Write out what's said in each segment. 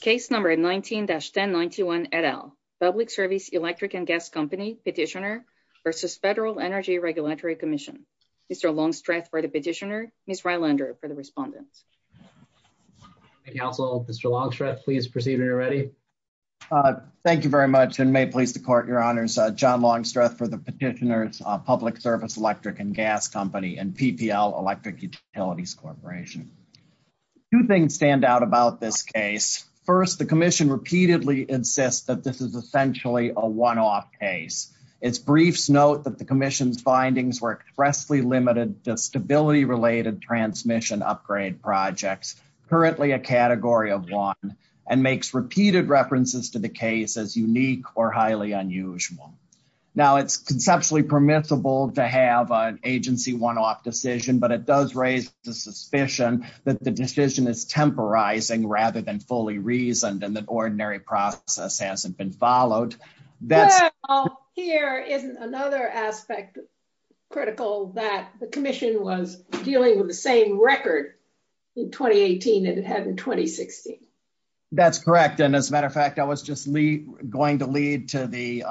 Case number 19-1091-RL, Public Service Electric and Gas Company, Petitioner v. Federal Energy Regulatory Commission. Mr. Longstreth for the Petitioner, Ms. Rylander for the Respondent. Thank you, counsel. Mr. Longstreth, please proceed when you're ready. Thank you very much and may it please the court, your honors. John Longstreth for the Petitioner, Public Service Electric and Gas Company and PPL Electric Utilities Corporation. Two things stand out about this case. First, the commission repeatedly insists that this is essentially a one-off case. Its briefs note that the commission's findings were expressly limited to stability-related transmission upgrade projects, currently a category of one, and makes repeated references to the case as unique or highly unusual. Now, it's conceptually permissible to have an agency one-off decision, but it does raise the suspicion that the decision is temporizing rather than fully reasoned and that ordinary process hasn't been followed. Here is another aspect critical that the commission was dealing with the same record in 2018 that it had in 2016. That's correct, and as a matter of fact, I was going to lead to the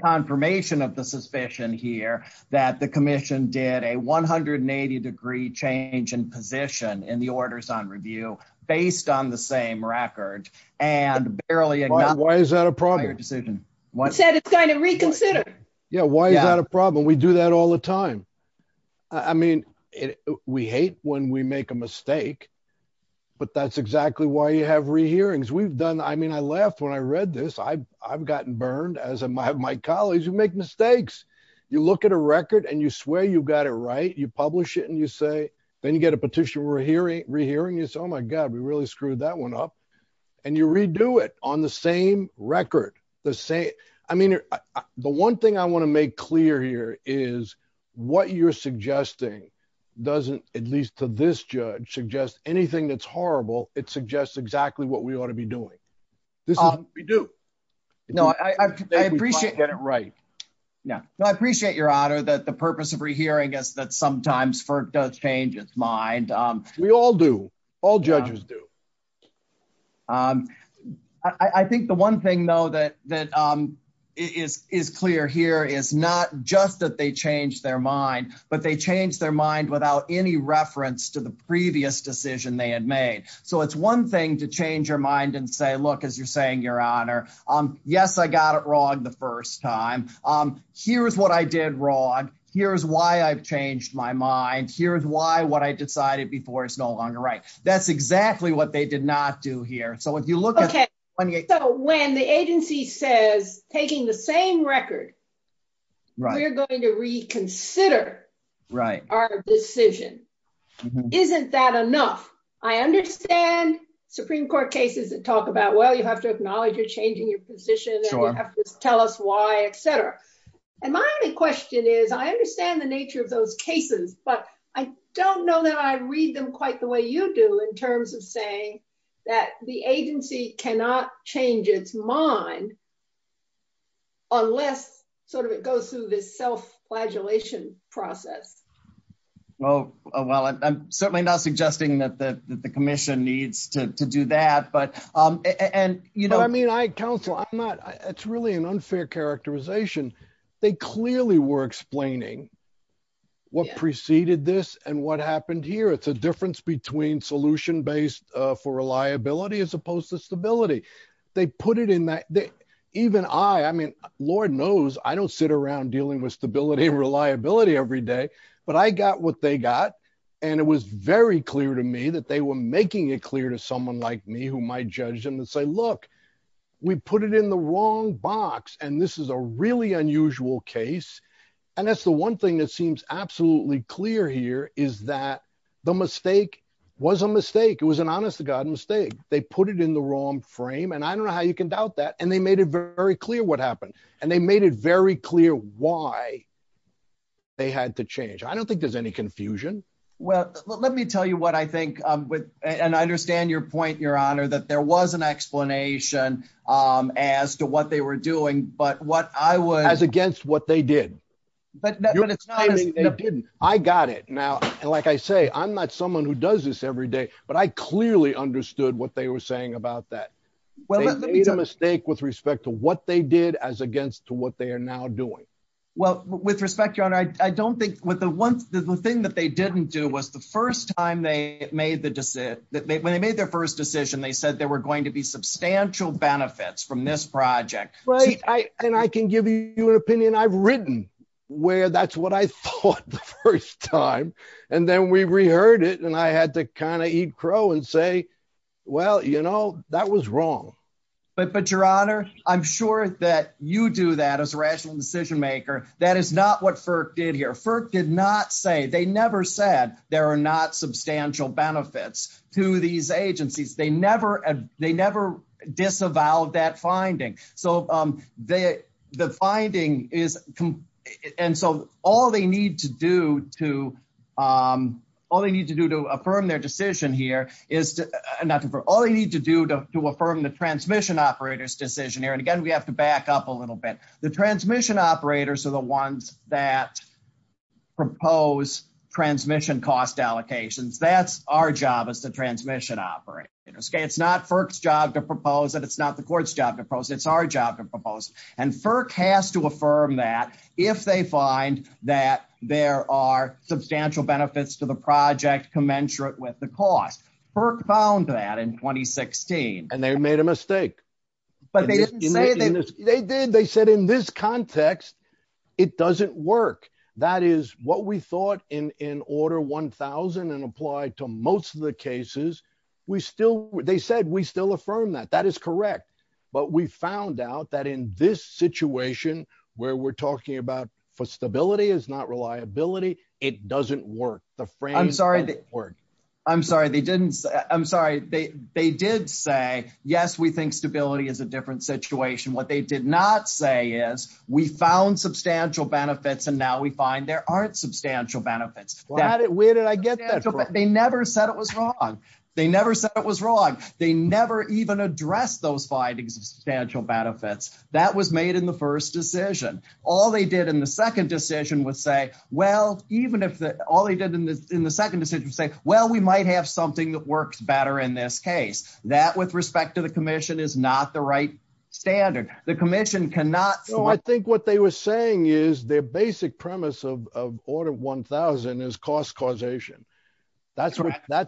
confirmation of the suspicion here that the commission did a 180-degree change in position in the orders on review based on the same record and barely- Why is that a problem? You said it's going to reconsider. Yeah, why is that a problem? We do that all the time. I mean, we hate when we make a mistake, but that's exactly why you have re-hearings. We've laughed when I read this. I've gotten burned as have my colleagues who make mistakes. You look at a record, and you swear you got it right. You publish it, and you say, then you get a petition re-hearing. You say, oh, my God, we really screwed that one up, and you redo it on the same record. The one thing I want to make clear here is what you're suggesting doesn't, at least to this judge, suggest anything that's horrible. It suggests exactly what we ought to be doing. This is what we do. No, I appreciate- I appreciate your honor that the purpose of re-hearing is that sometimes FERC does change its mind. We all do. All judges do. I think the one thing, though, that is clear here is not just that they changed their mind, but they changed their mind without any reference to the previous decision they had made. It's one thing to change your mind and say, look, as you're saying, your honor, yes, I got it wrong the first time. Here's what I did wrong. Here's why I've changed my mind. Here's why what I decided before is no longer right. That's exactly what they did not do here. If you look at- Okay. When the agency says, taking the same record, we're going to reconsider our decision. Isn't that enough? I understand Supreme Court cases that talk about, well, you have to acknowledge you're changing your position and you have to tell us why, et cetera. My only question is, I understand the nature of those cases, but I don't know that I read them quite the way you do in terms of saying that the agency cannot change its mind unless it goes through this self-flagellation process. Well, I'm certainly not suggesting that the commission needs to do that. Counselor, it's really an unfair characterization. They clearly were explaining what preceded this and what happened here. It's a difference between solution-based for reliability as opposed to stability. Lord knows, I don't sit around dealing with stability and reliability every day, but I got what they got. It was very clear to me that they were making it clear to someone like me who might judge them and say, look, we put it in the wrong box. This is a really unusual case. That's the one thing that seems absolutely clear here is that the they put it in the wrong frame. I don't know how you can doubt that. They made it very clear what happened. They made it very clear why they had to change. I don't think there's any confusion. Well, let me tell you what I think. I understand your point, Your Honor, that there was an explanation as to what they were doing, but what I would- As against what they did. I got it. Now, like I say, I'm not someone who does this every day, but I clearly understood what they were saying about that. They made a mistake with respect to what they did as against to what they are now doing. Well, with respect, Your Honor, I don't think the thing that they didn't do was when they made their first decision, they said there were going to be substantial benefits from this project. I can give you an opinion I've written where that's what I thought the first time, and then we reheard it, and I had to kind of eat crow and say, well, you know, that was wrong. But, Your Honor, I'm sure that you do that as a rational decision maker. That is not what FERC did here. FERC did not say, they never said there are not substantial benefits to these agencies. They never disavowed that finding. So, the finding is- And so, all they need to do to- All they need to do to affirm their decision here is to- Not to affirm. All they need to do to affirm the transmission operator's decision here, and again, we have to back up a little bit. The transmission operators are the ones that propose transmission cost allocations. That's our job as the transmission operator. It's not FERC's job to propose it. It's not the court's job to propose it. It's our job to propose it, and FERC has to affirm that if they find that there are substantial benefits to the project commensurate with the cost. FERC found that in 2016. And they made a mistake. But they didn't say that- They did. They said in this context, it doesn't work. That is what we thought in Order 1000 and applied to most of the cases. We still- They said, we still affirm that. That is correct. But we found out that in this situation where we're talking about for stability is not reliability, it doesn't work. The framing doesn't work. I'm sorry. They didn't- I'm sorry. They did say, yes, we think stability is a different situation. What they did not say is, we found substantial benefits, and now we find there aren't substantial benefits. Where did I get that from? They never said it was wrong. They never said it was wrong. They never even addressed those findings of substantial benefits. That was made in the first decision. All they did in the second decision was say, well, even if the- All they did in the second decision was say, well, we might have something that works better in this case. That with respect to the commission is not the standard. The commission cannot- I think what they were saying is their basic premise of Order 1000 is cost causation. That's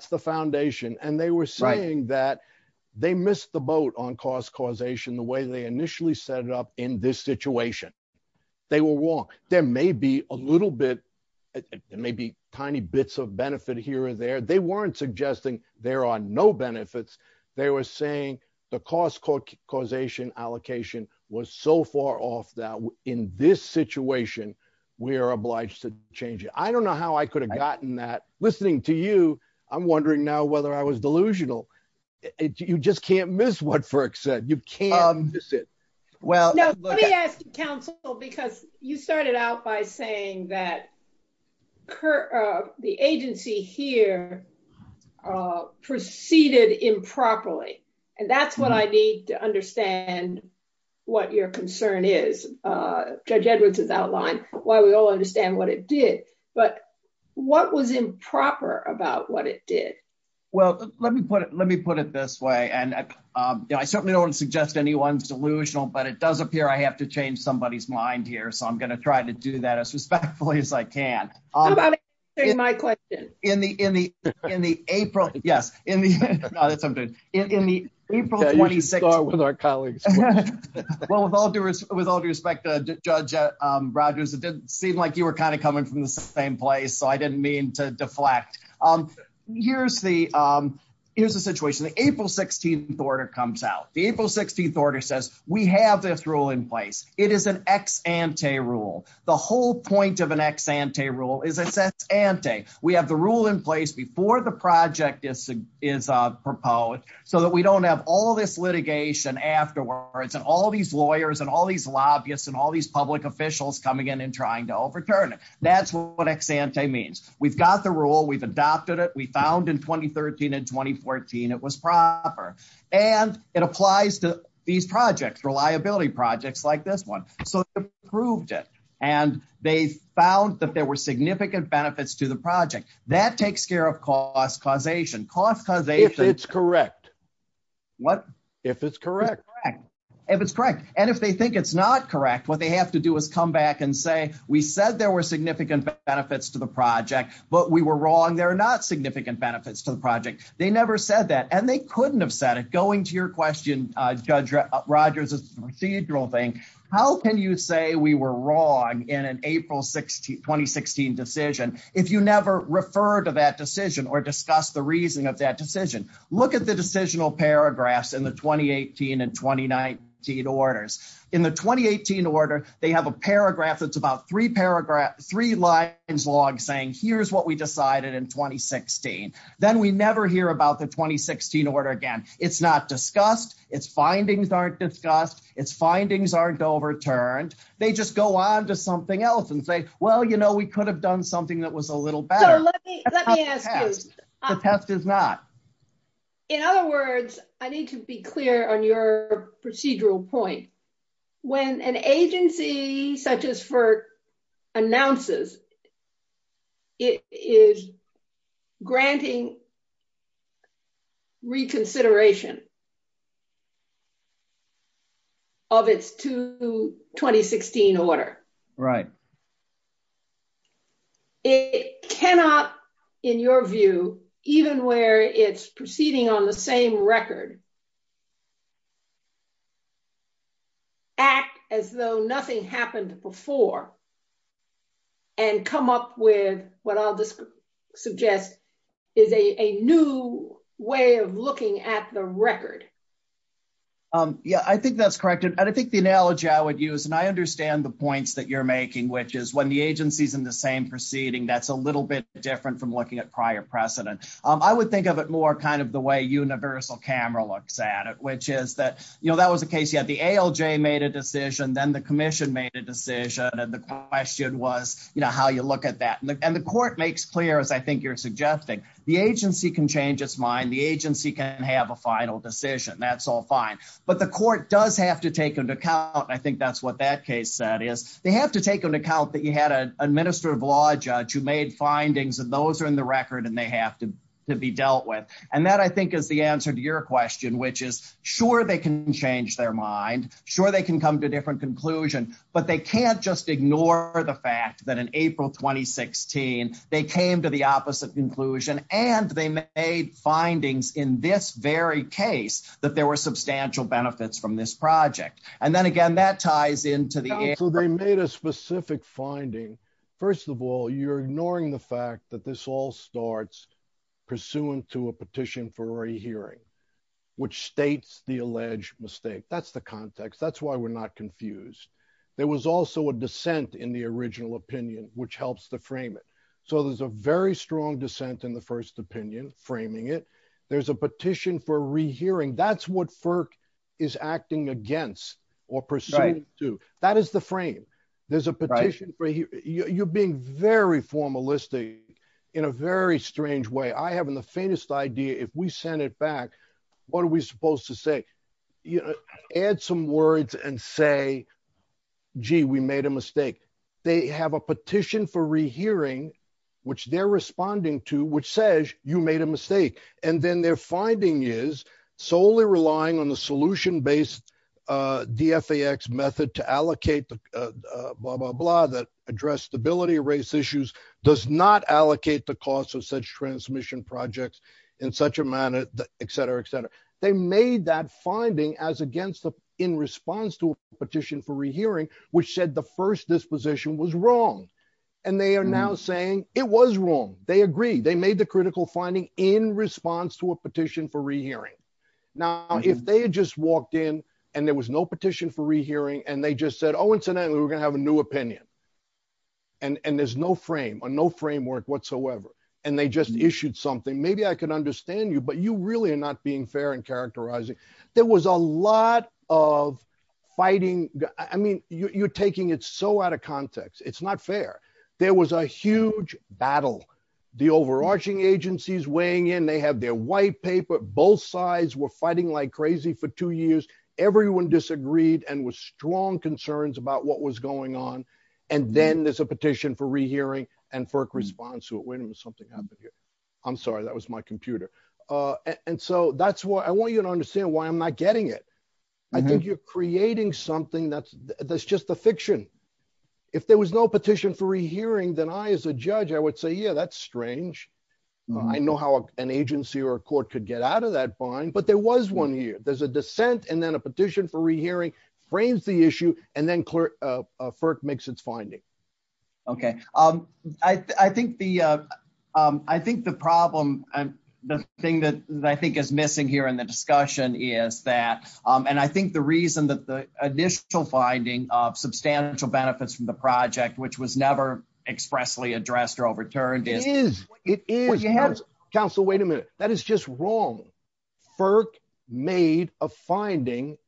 the foundation. They were saying that they missed the boat on cost causation the way they initially set it up in this situation. They were wrong. There may be a little bit, maybe tiny bits of benefit here or there. They weren't suggesting there are no benefits. They were saying the cost causation allocation was so far off that in this situation, we are obliged to change it. I don't know how I could have gotten that. Listening to you, I'm wondering now whether I was delusional. You just can't miss what Firk said. You can't miss it. Let me ask you, counsel, because you started out by saying that the agency here proceeded improperly. That's what I need to understand what your concern is. Judge Edwards has outlined why we all understand what it did, but what was improper about what it did? Well, let me put it this way. I certainly don't want to suggest anyone's delusional, but it does appear I have to change somebody's mind here. I'm going to try to do that as as respectfully as I can. How about answering my question? With all due respect, Judge Rogers, it did seem like you were coming from the same place, so I didn't mean to deflect. Here's the situation. The April 16th order comes out. The April 16th of an ex-ante rule is ex-ante. We have the rule in place before the project is proposed so that we don't have all this litigation afterwards and all these lawyers and all these lobbyists and all these public officials coming in and trying to overturn it. That's what ex-ante means. We've got the rule. We've adopted it. We found in 2013 and 2014 it was proper. It applies to these found that there were significant benefits to the project. That takes care of cost causation. If it's correct. What? If it's correct. If it's correct, and if they think it's not correct, what they have to do is come back and say, we said there were significant benefits to the project, but we were wrong. There are not significant benefits to the project. They never said that, and they couldn't have said it. Going to your question, Judge Rogers, it's a procedural thing. How can you say we were wrong in an April 2016 decision if you never refer to that decision or discuss the reason of that decision? Look at the decisional paragraphs in the 2018 and 2019 orders. In the 2018 order, they have a paragraph that's about three lines long saying here's what we decided in 2016. Then we never hear about the 2016 order again. It's not discussed. It's findings aren't discussed. It's findings aren't overturned. They just go on to something else and say, well, we could have done something that was a little better. The test is not. In other words, I need to be clear on your procedural point. When an agency such as FERC announces it is granting reconsideration of its 2016 order, it cannot, in your view, even where it's proceeding on the same record, act as though nothing happened before and come up with what I'll suggest is a new way of looking at the record. Yeah, I think that's correct, and I think the analogy I would use, and I understand the points that you're making, which is when the agency's in the same proceeding, that's a little bit different from looking at prior precedent. I would think of it kind of the way universal camera looks at it, which is that that was a case you had the ALJ made a decision, then the commission made a decision, and the question was how you look at that. The court makes clear, as I think you're suggesting, the agency can change its mind. The agency can have a final decision. That's all fine, but the court does have to take into account, and I think that's what that case said, is they have to take into account that you had an administrative law judge who made findings, and those are in the record, and they have to be dealt with, and that, I think, is the answer to your question, which is sure, they can change their mind. Sure, they can come to a different conclusion, but they can't just ignore the fact that in April 2016, they came to the opposite conclusion, and they made findings in this very case that there were substantial benefits from this project, and then again, that ties into the air. So they made a specific finding. First of all, you're ignoring the fact that this all starts pursuant to a petition for rehearing, which states the alleged mistake. That's the context. That's why we're not confused. There was also a dissent in the original opinion, which helps to frame it. So there's a very strong dissent in the first opinion framing it. There's a petition for rehearing. That's what FERC is acting against or pursuant to. That is the frame. There's a petition for rehearing. You're being very formalistic in a very strange way. I have the faintest idea if we send it back, what are we supposed to say? Add some words and say, gee, we made a mistake. They have a petition for rehearing, which they're responding to, which says you made a mistake, and then their finding is solely relying on the solution-based DFAX method to allocate the blah, blah, blah, that address stability, erase issues, does not allocate the cost of such transmission projects in such a manner, et cetera, et cetera. They made that finding as against the, in response to a petition for rehearing, which said the first disposition was wrong. And they are now saying it was wrong. They agree. They made the critical finding in response to a petition for rehearing. Now, if they had just walked in and there was no petition for rehearing and they just said, oh, incidentally, we're going to have a new opinion, and there's no frame or no framework whatsoever, and they just issued something, maybe I can understand you, but you really are not being fair and characterizing. There was a lot of fighting. I mean, you're taking it so out of context. It's not fair. There was a huge battle. The overarching agencies weighing in, they have their white paper, both sides were fighting like crazy for two years. Everyone disagreed and was strong concerns about what was going on. And then there's a petition for rehearing and FERC responds to it. Wait a minute, something happened here. I'm sorry. That was my computer. And so that's why I want you to understand why I'm not getting it. I think you're creating something that's just a fiction. If there was no petition for rehearing, then I, as a judge, I would say, yeah, that's strange. I know how an agency or a court could get out of that bind, but there was one here. There's a dissent and then a petition for rehearing, frames the issue, and then FERC makes its finding. Okay. I think the problem, the thing that I think is missing here in the discussion is that, and I think the reason that the initial finding of substantial benefits from the project, which was never expressly addressed or overturned is- It is. It is. Counsel, wait a minute. That is just wrong. FERC made a finding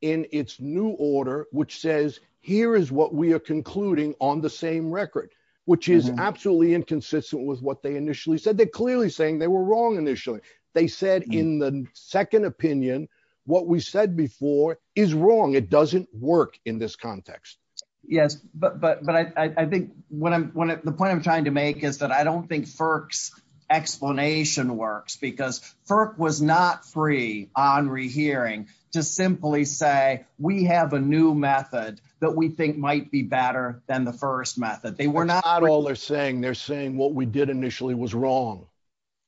in its new order, which says, here is what we are concluding on the same record, which is absolutely inconsistent with what they initially said. They're clearly saying they were wrong initially. They said in the second opinion, what we said before is wrong. It doesn't work in this context. Yes, but I think the point I'm trying to make is that I don't think FERC's explanation works, because FERC was not free on rehearing to simply say, we have a new method that we think might be better than the first method. They were not- That's not all they're saying. They're saying what we did initially was wrong.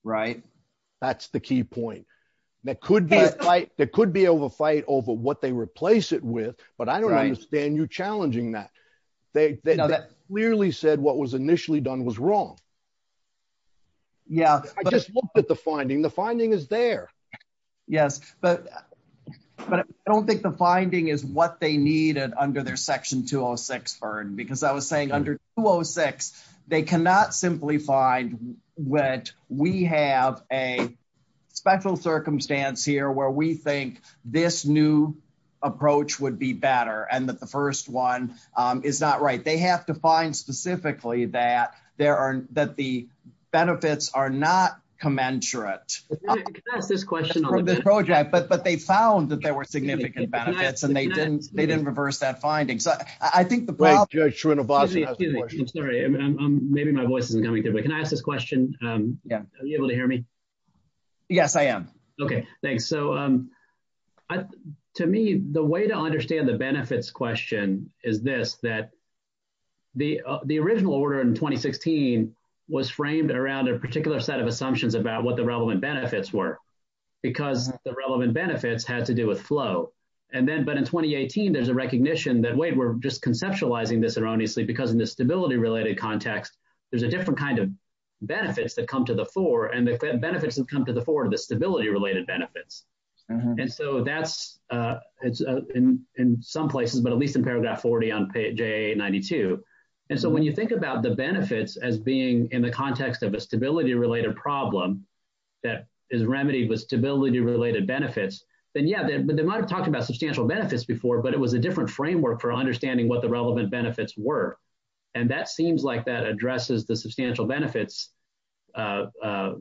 Right. That's the key point. There could be a fight over what they replace it with, but I don't understand you challenging that. They clearly said what was initially done was wrong. Yeah. I just looked at the finding. The finding is there. Yes, but I don't think the finding is what they needed under their section 206, Vern, because I was saying under 206, they cannot simply find what we have a special circumstance here where we think this new approach would be better and that the first one is not right. They have to find specifically that the benefits are not commensurate. Can I ask this question on that? From the project, but they found that there were significant benefits and they didn't reverse that finding. I think the problem- Judge Srinivasan has a question. Excuse me. I'm sorry. Maybe my voice isn't coming through, but can I ask this question? Are you able to hear me? Yes, I am. Okay. Thanks. To me, the way to understand the benefits question is this, that the original order in 2016 was framed around a particular set of assumptions about what the relevant benefits were because the relevant benefits had to do with flow. Then, but in 2018, there's a recognition that, wait, we're just conceptualizing this erroneously because in the stability-related context, there's a different kind of benefits that come to the fore and the benefits that come to the fore are the stability-related benefits. That's in some places, but at least in paragraph 40 on JA-92. When you think about the benefits as being in the context of a stability-related problem that is remedied with stability-related benefits, then yeah, they might have talked about substantial benefits before, but it was a different framework for understanding what the relevant benefits were. That seems like that addresses the substantial benefits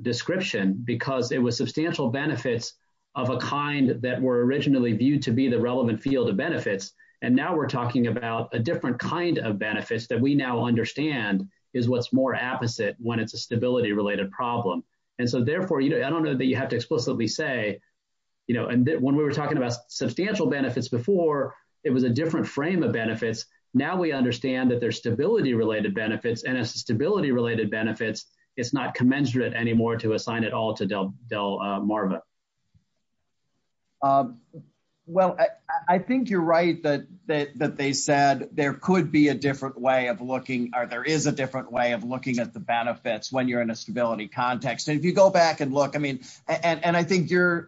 description because it was substantial benefits of a kind that were originally viewed to be the relevant field of benefits. Now, we're talking about a different kind of benefits that we now understand is what's more apposite when it's a stability-related problem. Therefore, I don't know that you have to explicitly say, when we were talking about substantial benefits before, it was a different frame of benefits. Now, we understand that there's stability-related benefits. As stability-related benefits, it's not commensurate anymore to assign it all to Delmarva. Well, I think you're right that they said there could be a different way of looking, or there is a different way of looking at the benefits when you're in a stability context. If you go back and look, and I think you're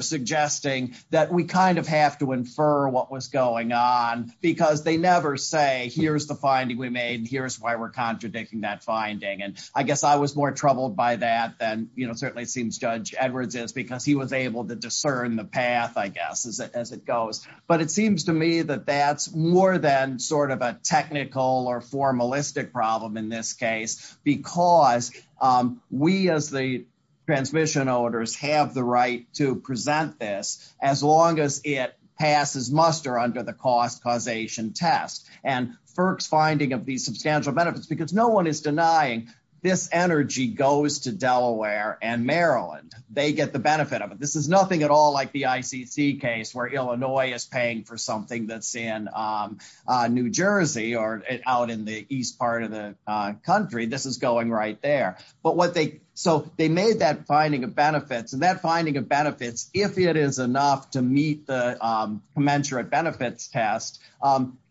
suggesting that we have to infer what was going on because they never say, here's the finding we made, and here's why we're contradicting that finding. I guess I was more troubled by that than certainly seems Judge Edwards is because he was able to discern the path, I guess, as it goes. It seems to me that that's more than a technical or formalistic problem in this case because we, as the transmission owners, have the right to present this as long as it passes muster under the cost causation test. FERC's finding of these substantial benefits, because no one is denying this energy goes to Delaware and Maryland, they get the benefit of it. This is nothing at all like the ICC case where Illinois is paying for something that's in New Jersey or out in the east part of the country. This is going right there. So they made that finding of benefits, and that finding of benefits, if it is enough to meet the commensurate benefits test,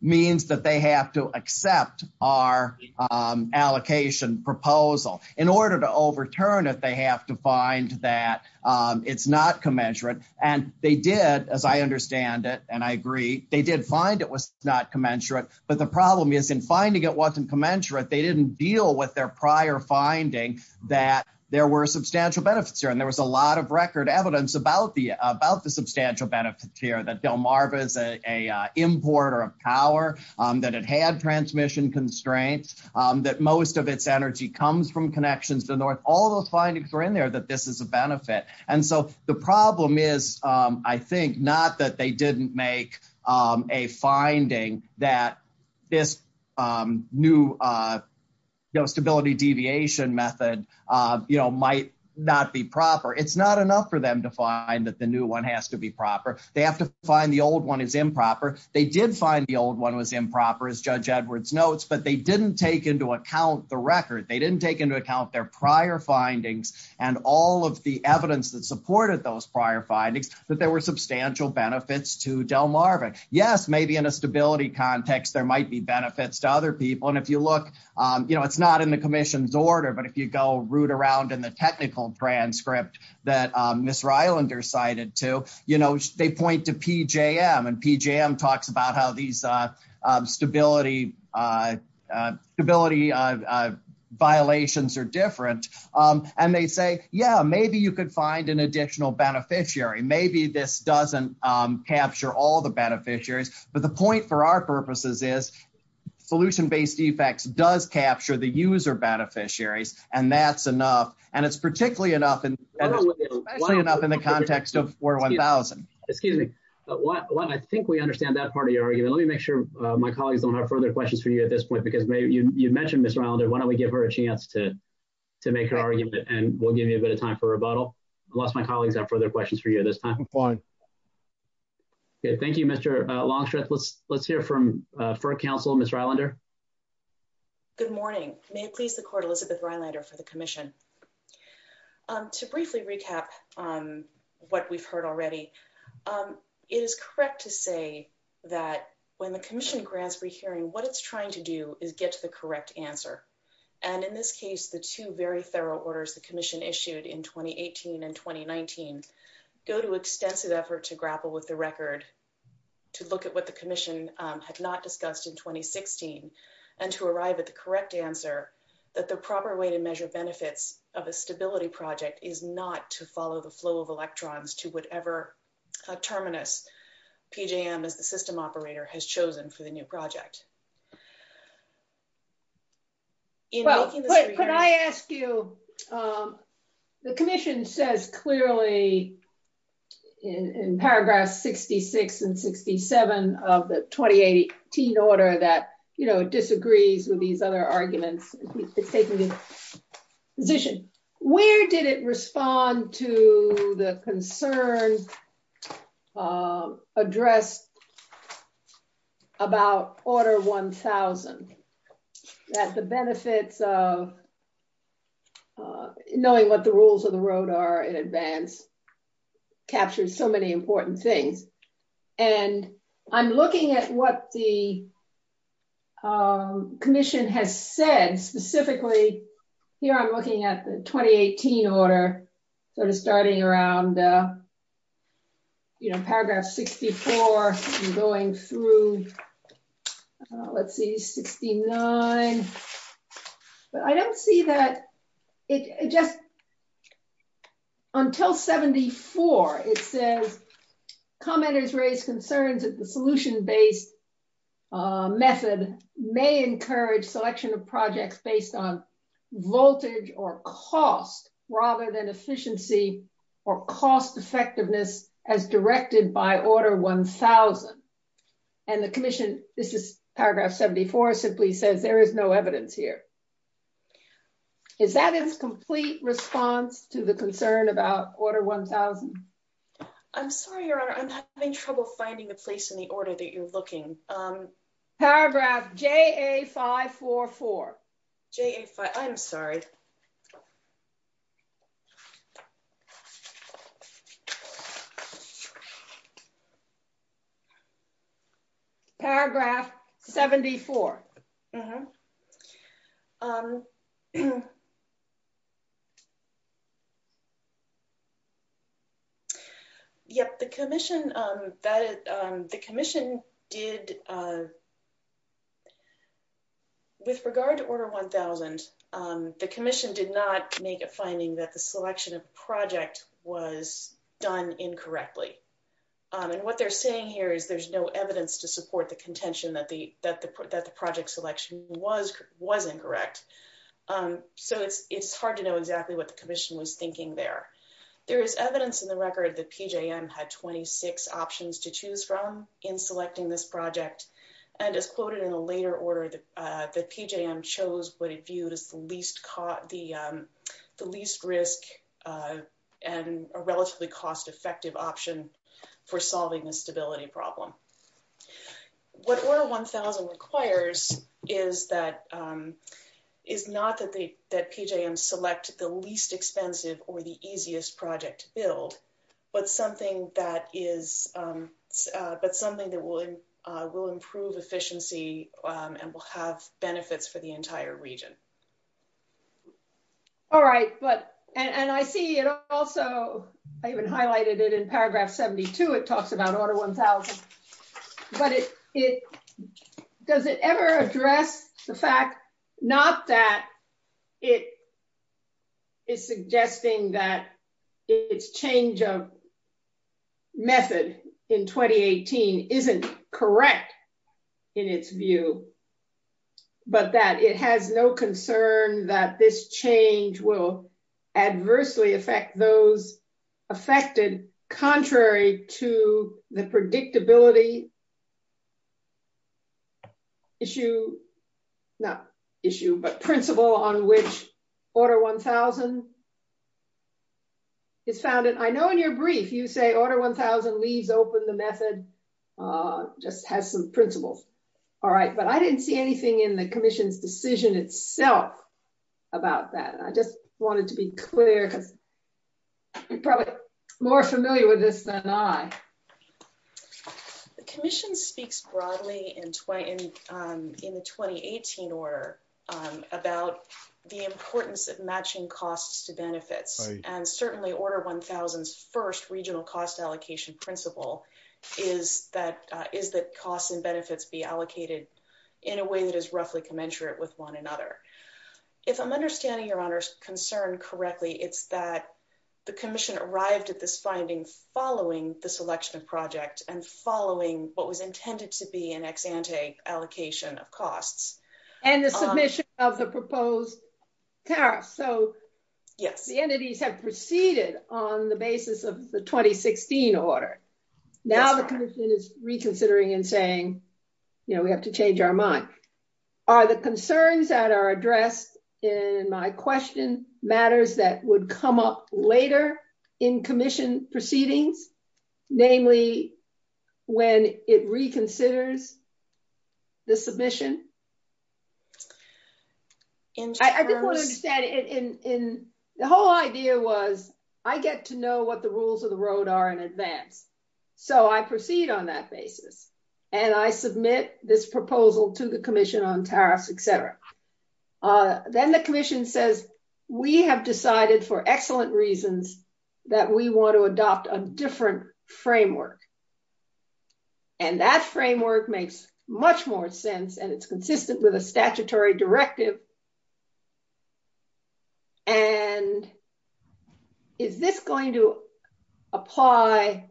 means that they have to accept our allocation proposal. In order to overturn it, they have to find that it's not commensurate. And they did, as I understand it, and I agree, they did find it was not commensurate, but the problem is in finding it wasn't commensurate. They didn't deal with their prior finding that there were substantial benefits here. And there was a lot of record evidence about the substantial benefits here, that Delmarva is an importer of power, that it had transmission constraints, that most of its energy comes from connections to the north. All those findings were in there that this is a benefit. And so the problem is, I think, not that they didn't make a finding that this new stability deviation method might not be proper. It's not enough for them to find that the new one has to be proper. They have to find the old one is improper. They did find the old one was improper, as Judge Edwards notes, but they didn't take into account the record. They didn't take into account their prior findings and all of the evidence that supported those prior findings, that there were substantial benefits to Delmarva. Yes, maybe in a stability context, there might be benefits to other people. And if you look, it's not in the commission's order, but if you go root around in the technical transcript that Ms. Rylander cited too, they point to PJM and PJM talks about how these stability violations are different. And they say, yeah, maybe you could find an additional beneficiary. Maybe this doesn't capture all the beneficiaries. But the point for our purposes is, solution-based defects does capture the user beneficiaries, and that's enough. And it's particularly enough, especially enough in the context of 4-1000. Excuse me. I think we understand that part of your argument. Let me make sure my colleagues don't have further questions for you at this point, because you mentioned Ms. Rylander. Why don't we give her a chance to make her argument, and we'll give you a bit of time for rebuttal, unless my colleagues have further questions for you at this time. Okay, thank you, Mr. Longstreth. Let's hear from FERC counsel, Ms. Rylander. Good morning. May it please the court, Elizabeth Rylander for the commission. To briefly recap what we've heard already, it is correct to say that when the commission grants rehearing, what it's trying to do is get to the correct answer. And in this case, the two very thorough orders the commission issued in 2018 and 2019 go to extensive effort to grapple with the record, to look at what the commission had not discussed in 2016, and to arrive at the correct answer that the proper way to measure benefits of a stability project is not to follow the flow of electrons to whatever terminus PJM, as the system operator, has chosen for the new project. Could I ask you, the commission says clearly in paragraphs 66 and 67 of the 2018 order that, you know, disagrees with these other arguments. It's taking the position. Where did it respond to the concern addressed about order 1000, that the benefits of knowing what the rules of the road are in advance captures so many important things. And I'm looking at what the commission has said, specifically, here I'm looking at the 2018 order, sort of starting around, you know, paragraph 64, going through, let's see 69. But I don't see that it just until 74, it says commenters raise concerns that the solution based method may encourage selection of projects based on voltage or cost rather than efficiency or cost effectiveness as directed by order 1000. And the commission, this is paragraph 74 simply says there is no evidence here. Is that its complete response to the concern about order 1000? I'm sorry, your honor, I'm having trouble finding the place in the order that you're looking. Paragraph JA 544. I'm sorry. Paragraph 74. Mm-hmm. Yep, the commission did, with regard to order 1000, the commission did not make a finding that the selection of project was done incorrectly. And what they're saying here is there's no evidence to support the contention that the project selection was incorrect. So it's hard to know exactly what the commission was thinking there. There is evidence in the record that PJM had 26 options to choose from in selecting this project. And as quoted in a later order, that PJM chose what it viewed as the least risk and a relatively cost effective option for solving the stability problem. What order 1000 requires is that, is not that PJM select the least expensive or the easiest project to build, but something that is, but something that will improve efficiency and will have benefits for the entire region. All right, but, and I see it also, I even highlighted it in but it, does it ever address the fact, not that it is suggesting that it's change of method in 2018 isn't correct in its view, but that it has no concern that this change will affected contrary to the predictability issue, not issue, but principle on which order 1000 is founded. I know in your brief, you say order 1000 leaves open the method, just has some principles. All right, but I didn't see anything in the commission's decision itself about that. And I just wanted to be clear because you're probably more familiar with this than I. The commission speaks broadly in the 2018 order about the importance of matching costs to benefits and certainly order 1000's first regional cost allocation principle is that costs and benefits be allocated in a way that is roughly commensurate with one another. If I'm understanding your honor's concern correctly, it's that the commission arrived at this finding following the selection of project and following what was intended to be an ex-ante allocation of costs. And the submission of the proposed tariff. So yes, the entities have proceeded on the basis of the 2016 order. Now the commission is reconsidering and saying, we have to change our mind. Are the concerns that are addressed in my question matters that would come up later in commission proceedings, namely when it reconsiders the submission. And I just want to understand it in the whole idea was, I get to know what the rules of the road are in advance. So I proceed on that basis. And I submit this proposal to the commission on tariffs, etc. Then the commission says, we have decided for excellent reasons that we want to adopt a different framework. And that framework makes much more sense. And it's called the statutory directive. And is this going to apply?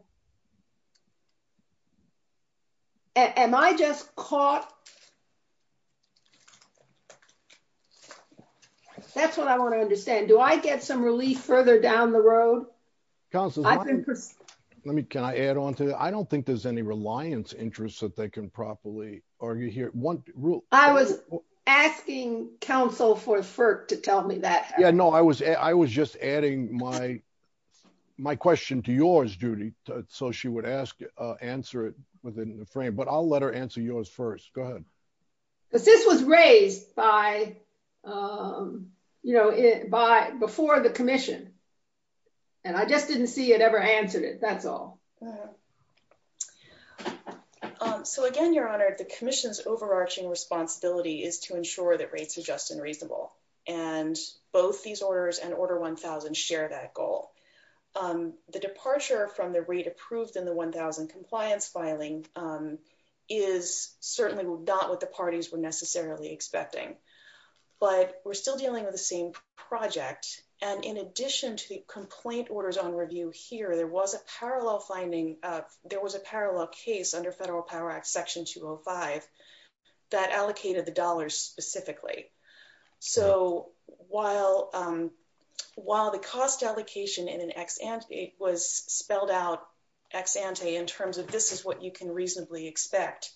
Am I just caught? That's what I want to understand. Do I get some relief further down the road? Let me, can I add on to that? I don't think there's any reliance interest that they can argue here. I was asking counsel for FERC to tell me that. Yeah, no, I was just adding my question to yours, Judy. So she would ask, answer it within the frame, but I'll let her answer yours first. Go ahead. Because this was raised by, before the commission. And I just didn't see it ever answered it. That's all. All right. So again, Your Honor, the commission's overarching responsibility is to ensure that rates are just and reasonable. And both these orders and order 1000 share that goal. The departure from the rate approved in the 1000 compliance filing is certainly not what the parties were necessarily expecting. But we're still dealing with the same project. And in there was a parallel case under federal power act section 205 that allocated the dollars specifically. So while the cost allocation in an ex ante was spelled out ex ante in terms of this is what you can reasonably expect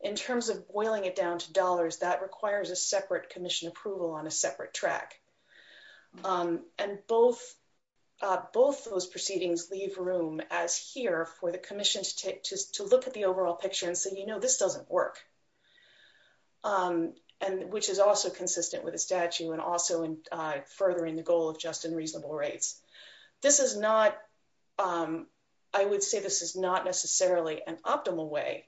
in terms of boiling it down to dollars that requires a separate commission approval on a separate track. And both those proceedings leave room as here for the commission to take to look at the overall picture and say, you know, this doesn't work. And which is also consistent with a statute and also in furthering the goal of just and reasonable rates. This is not, I would say this is not necessarily an optimal way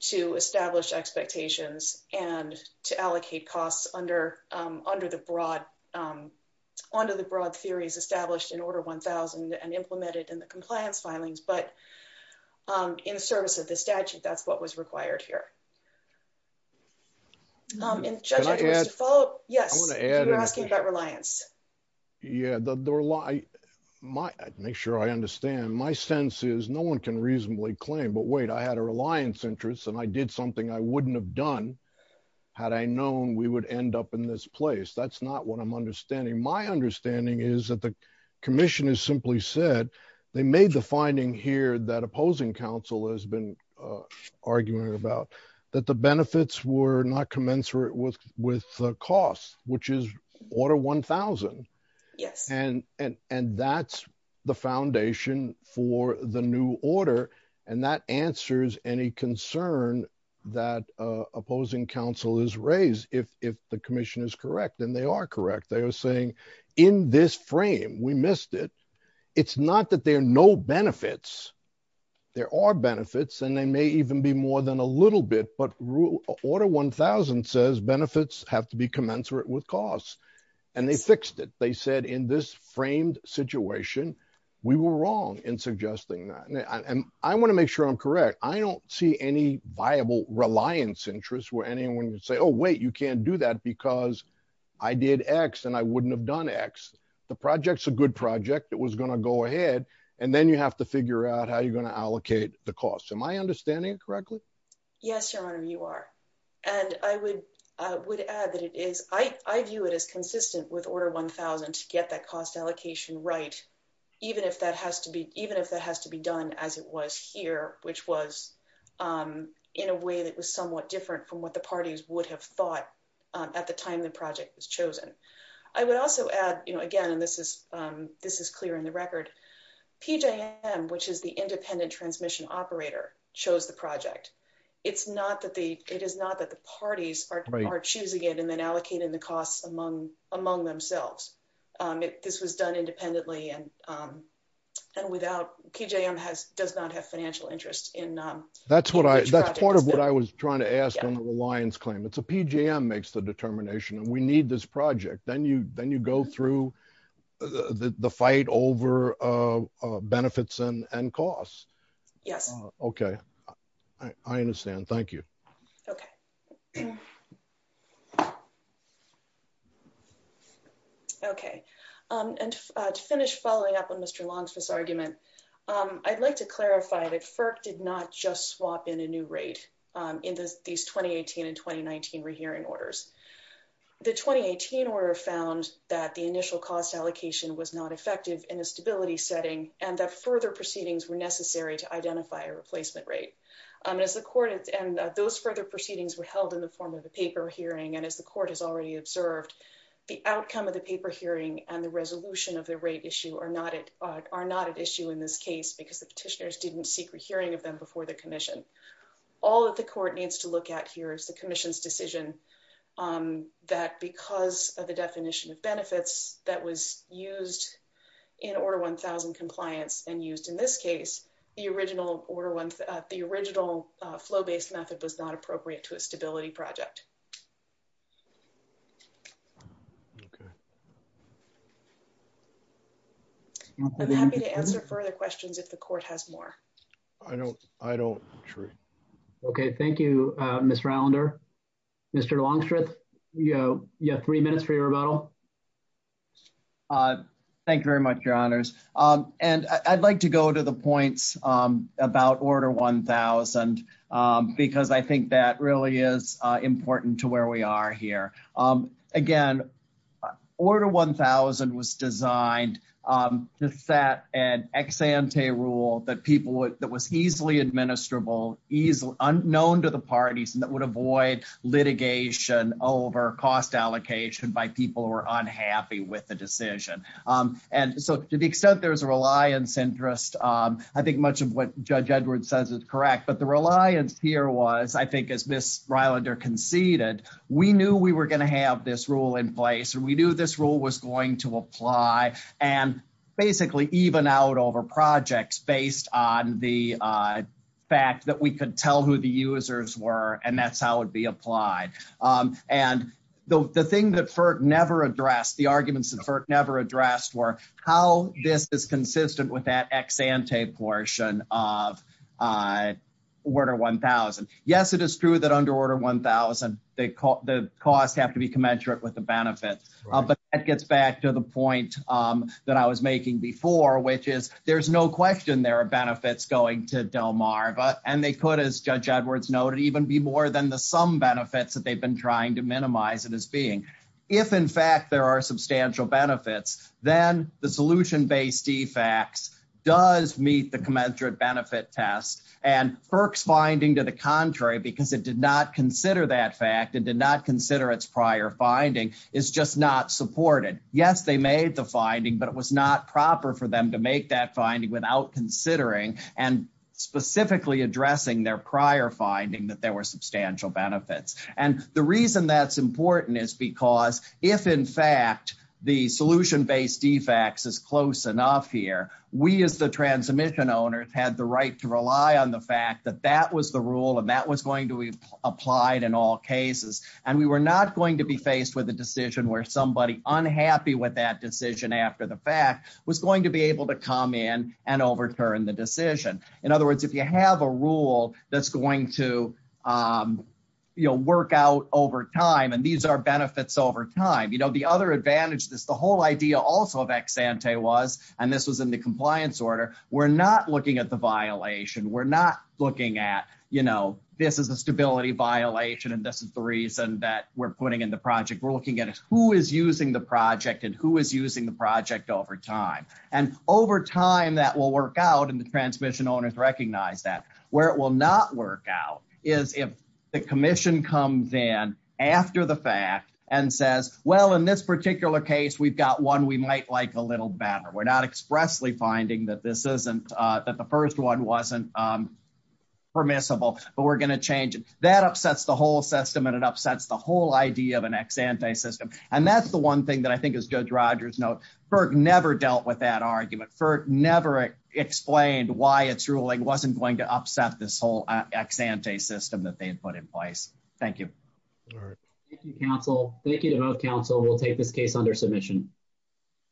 to establish expectations and to allocate costs under the broad theories established in order 1000 and the compliance filings, but in the service of the statute, that's what was required here. Yes, we're asking about reliance. Yeah, they're like, my make sure I understand my sense is no one can reasonably claim but wait, I had a reliance interest and I did something I wouldn't have done. Had I known we would end up in this place. That's not what I'm understanding. My understanding is that the commission is simply said, they made the finding here that opposing counsel has been arguing about that the benefits were not commensurate with with costs, which is order 1000. Yes. And, and, and that's the foundation for the new order. And that answers any concern that opposing counsel is raised if if the commission is correct, and they are correct. They are saying in this frame, we missed it. It's not that there are no benefits. There are benefits, and they may even be more than a little bit, but rule order 1000 says benefits have to be commensurate with costs. And they fixed it. They said in this framed situation, we were wrong in suggesting that and I want to make sure I'm correct. I don't see any viable reliance interests where anyone would say, Oh, wait, you can't do that because I did x and I wouldn't have done x. The project's a good project that was going to go ahead. And then you have to figure out how you're going to allocate the cost. Am I understanding correctly? Yes, Your Honor, you are. And I would, I would add that it is I view it as consistent with order 1000 to get that cost allocation, right? Even if that has to be even if that has to be done as it was here, which was in a way that was somewhat different from what the parties would have thought at the time the project was chosen. I would also add, you know, again, and this is, this is clear in the record, PJM, which is the independent transmission operator chose the project. It's not that the it is not that the parties are choosing it and then allocating the costs among themselves. This was done independently and without PJM has does not have financial interest in that's what I, that's part of what I was trying to ask on the reliance claim. It's a PJM makes the determination and we need this project. Then you, then you go through the fight over benefits and costs. Yes. Okay. I understand. Thank you. Okay. Okay. And to finish following up on Mr. Long's first argument, I'd like to clarify that FERC did not just swap in a new rate in these 2018 and 2019 rehearing orders. The 2018 order found that the initial cost allocation was not effective in a stability setting and that further proceedings were necessary to identify a replacement rate. And as the court and those further proceedings were held in the form of a paper hearing. And as the court has already observed, the outcome of the paper hearing and the resolution of the rate issue are not at, are not at issue in this case because the petitioners didn't seek a hearing of them before the commission. All that the court needs to look at here is the commission's decision that because of the definition of benefits that was used in order 1000 compliance and used in this case, the original order one, the original flow-based method was not appropriate to a further questions. If the court has more, I don't, I don't sure. Okay. Thank you. Miss rounder, Mr. Longstreet, you know, you have three minutes for your rebuttal. Uh, thank you very much, your honors. Um, and I I'd like to go to the points, um, about order 1000, um, because I think that really is, uh, important to where we are here. Um, again, uh, order 1000 was designed, um, to set an ex ante rule that people would, that was easily administrable, easily unknown to the parties and that would avoid litigation over cost allocation by people who are unhappy with the decision. Um, and so to the extent there's a reliance interest, um, I think much of what judge Edward says is correct, but the rule in place, or we knew this rule was going to apply and basically even out over projects based on the, uh, fact that we could tell who the users were and that's how it'd be applied. Um, and the, the thing that FERC never addressed, the arguments that FERC never addressed were how this is consistent with that ex ante portion of, uh, order 1000. Yes, it is true that under order 1000, the cost, the costs have to be commensurate with the benefits, but that gets back to the point, um, that I was making before, which is there's no question there are benefits going to Delmarva and they could, as judge Edwards noted, even be more than the sum benefits that they've been trying to minimize it as being. If in fact there are substantial benefits, then the solution based defects does meet the commensurate benefit test and FERC's finding to contrary because it did not consider that fact and did not consider its prior finding is just not supported. Yes, they made the finding, but it was not proper for them to make that finding without considering and specifically addressing their prior finding that there were substantial benefits. And the reason that's important is because if in fact the solution based defects is close enough here, we as the transmission owners had the right to rely on the fact that that was the rule and that was going to be applied in all cases. And we were not going to be faced with a decision where somebody unhappy with that decision after the fact was going to be able to come in and overturn the decision. In other words, if you have a rule that's going to, um, you'll work out over time and these are benefits over time, you know, the other advantage, this, the whole idea also of ex ante was, and this was in the compliance order, we're not looking at the violation. We're not looking at, you know, this is a stability violation. And this is the reason that we're putting in the project. We're looking at who is using the project and who is using the project over time and over time that will work out. And the transmission owners recognize that where it will not work out is if the commission comes in after the fact and says, well, in this particular case, we've got one, we might like a little better. We're not expressly finding that this isn't, uh, that the first one wasn't, um, permissible, but we're going to change it. That upsets the whole system and it upsets the whole idea of an ex ante system. And that's the one thing that I think is good. Roger's note, Burke never dealt with that argument for never explained why it's ruling wasn't going to upset this whole ex ante system that they had put in place. Thank you. All right. Thank you, counsel. We'll take this case under submission.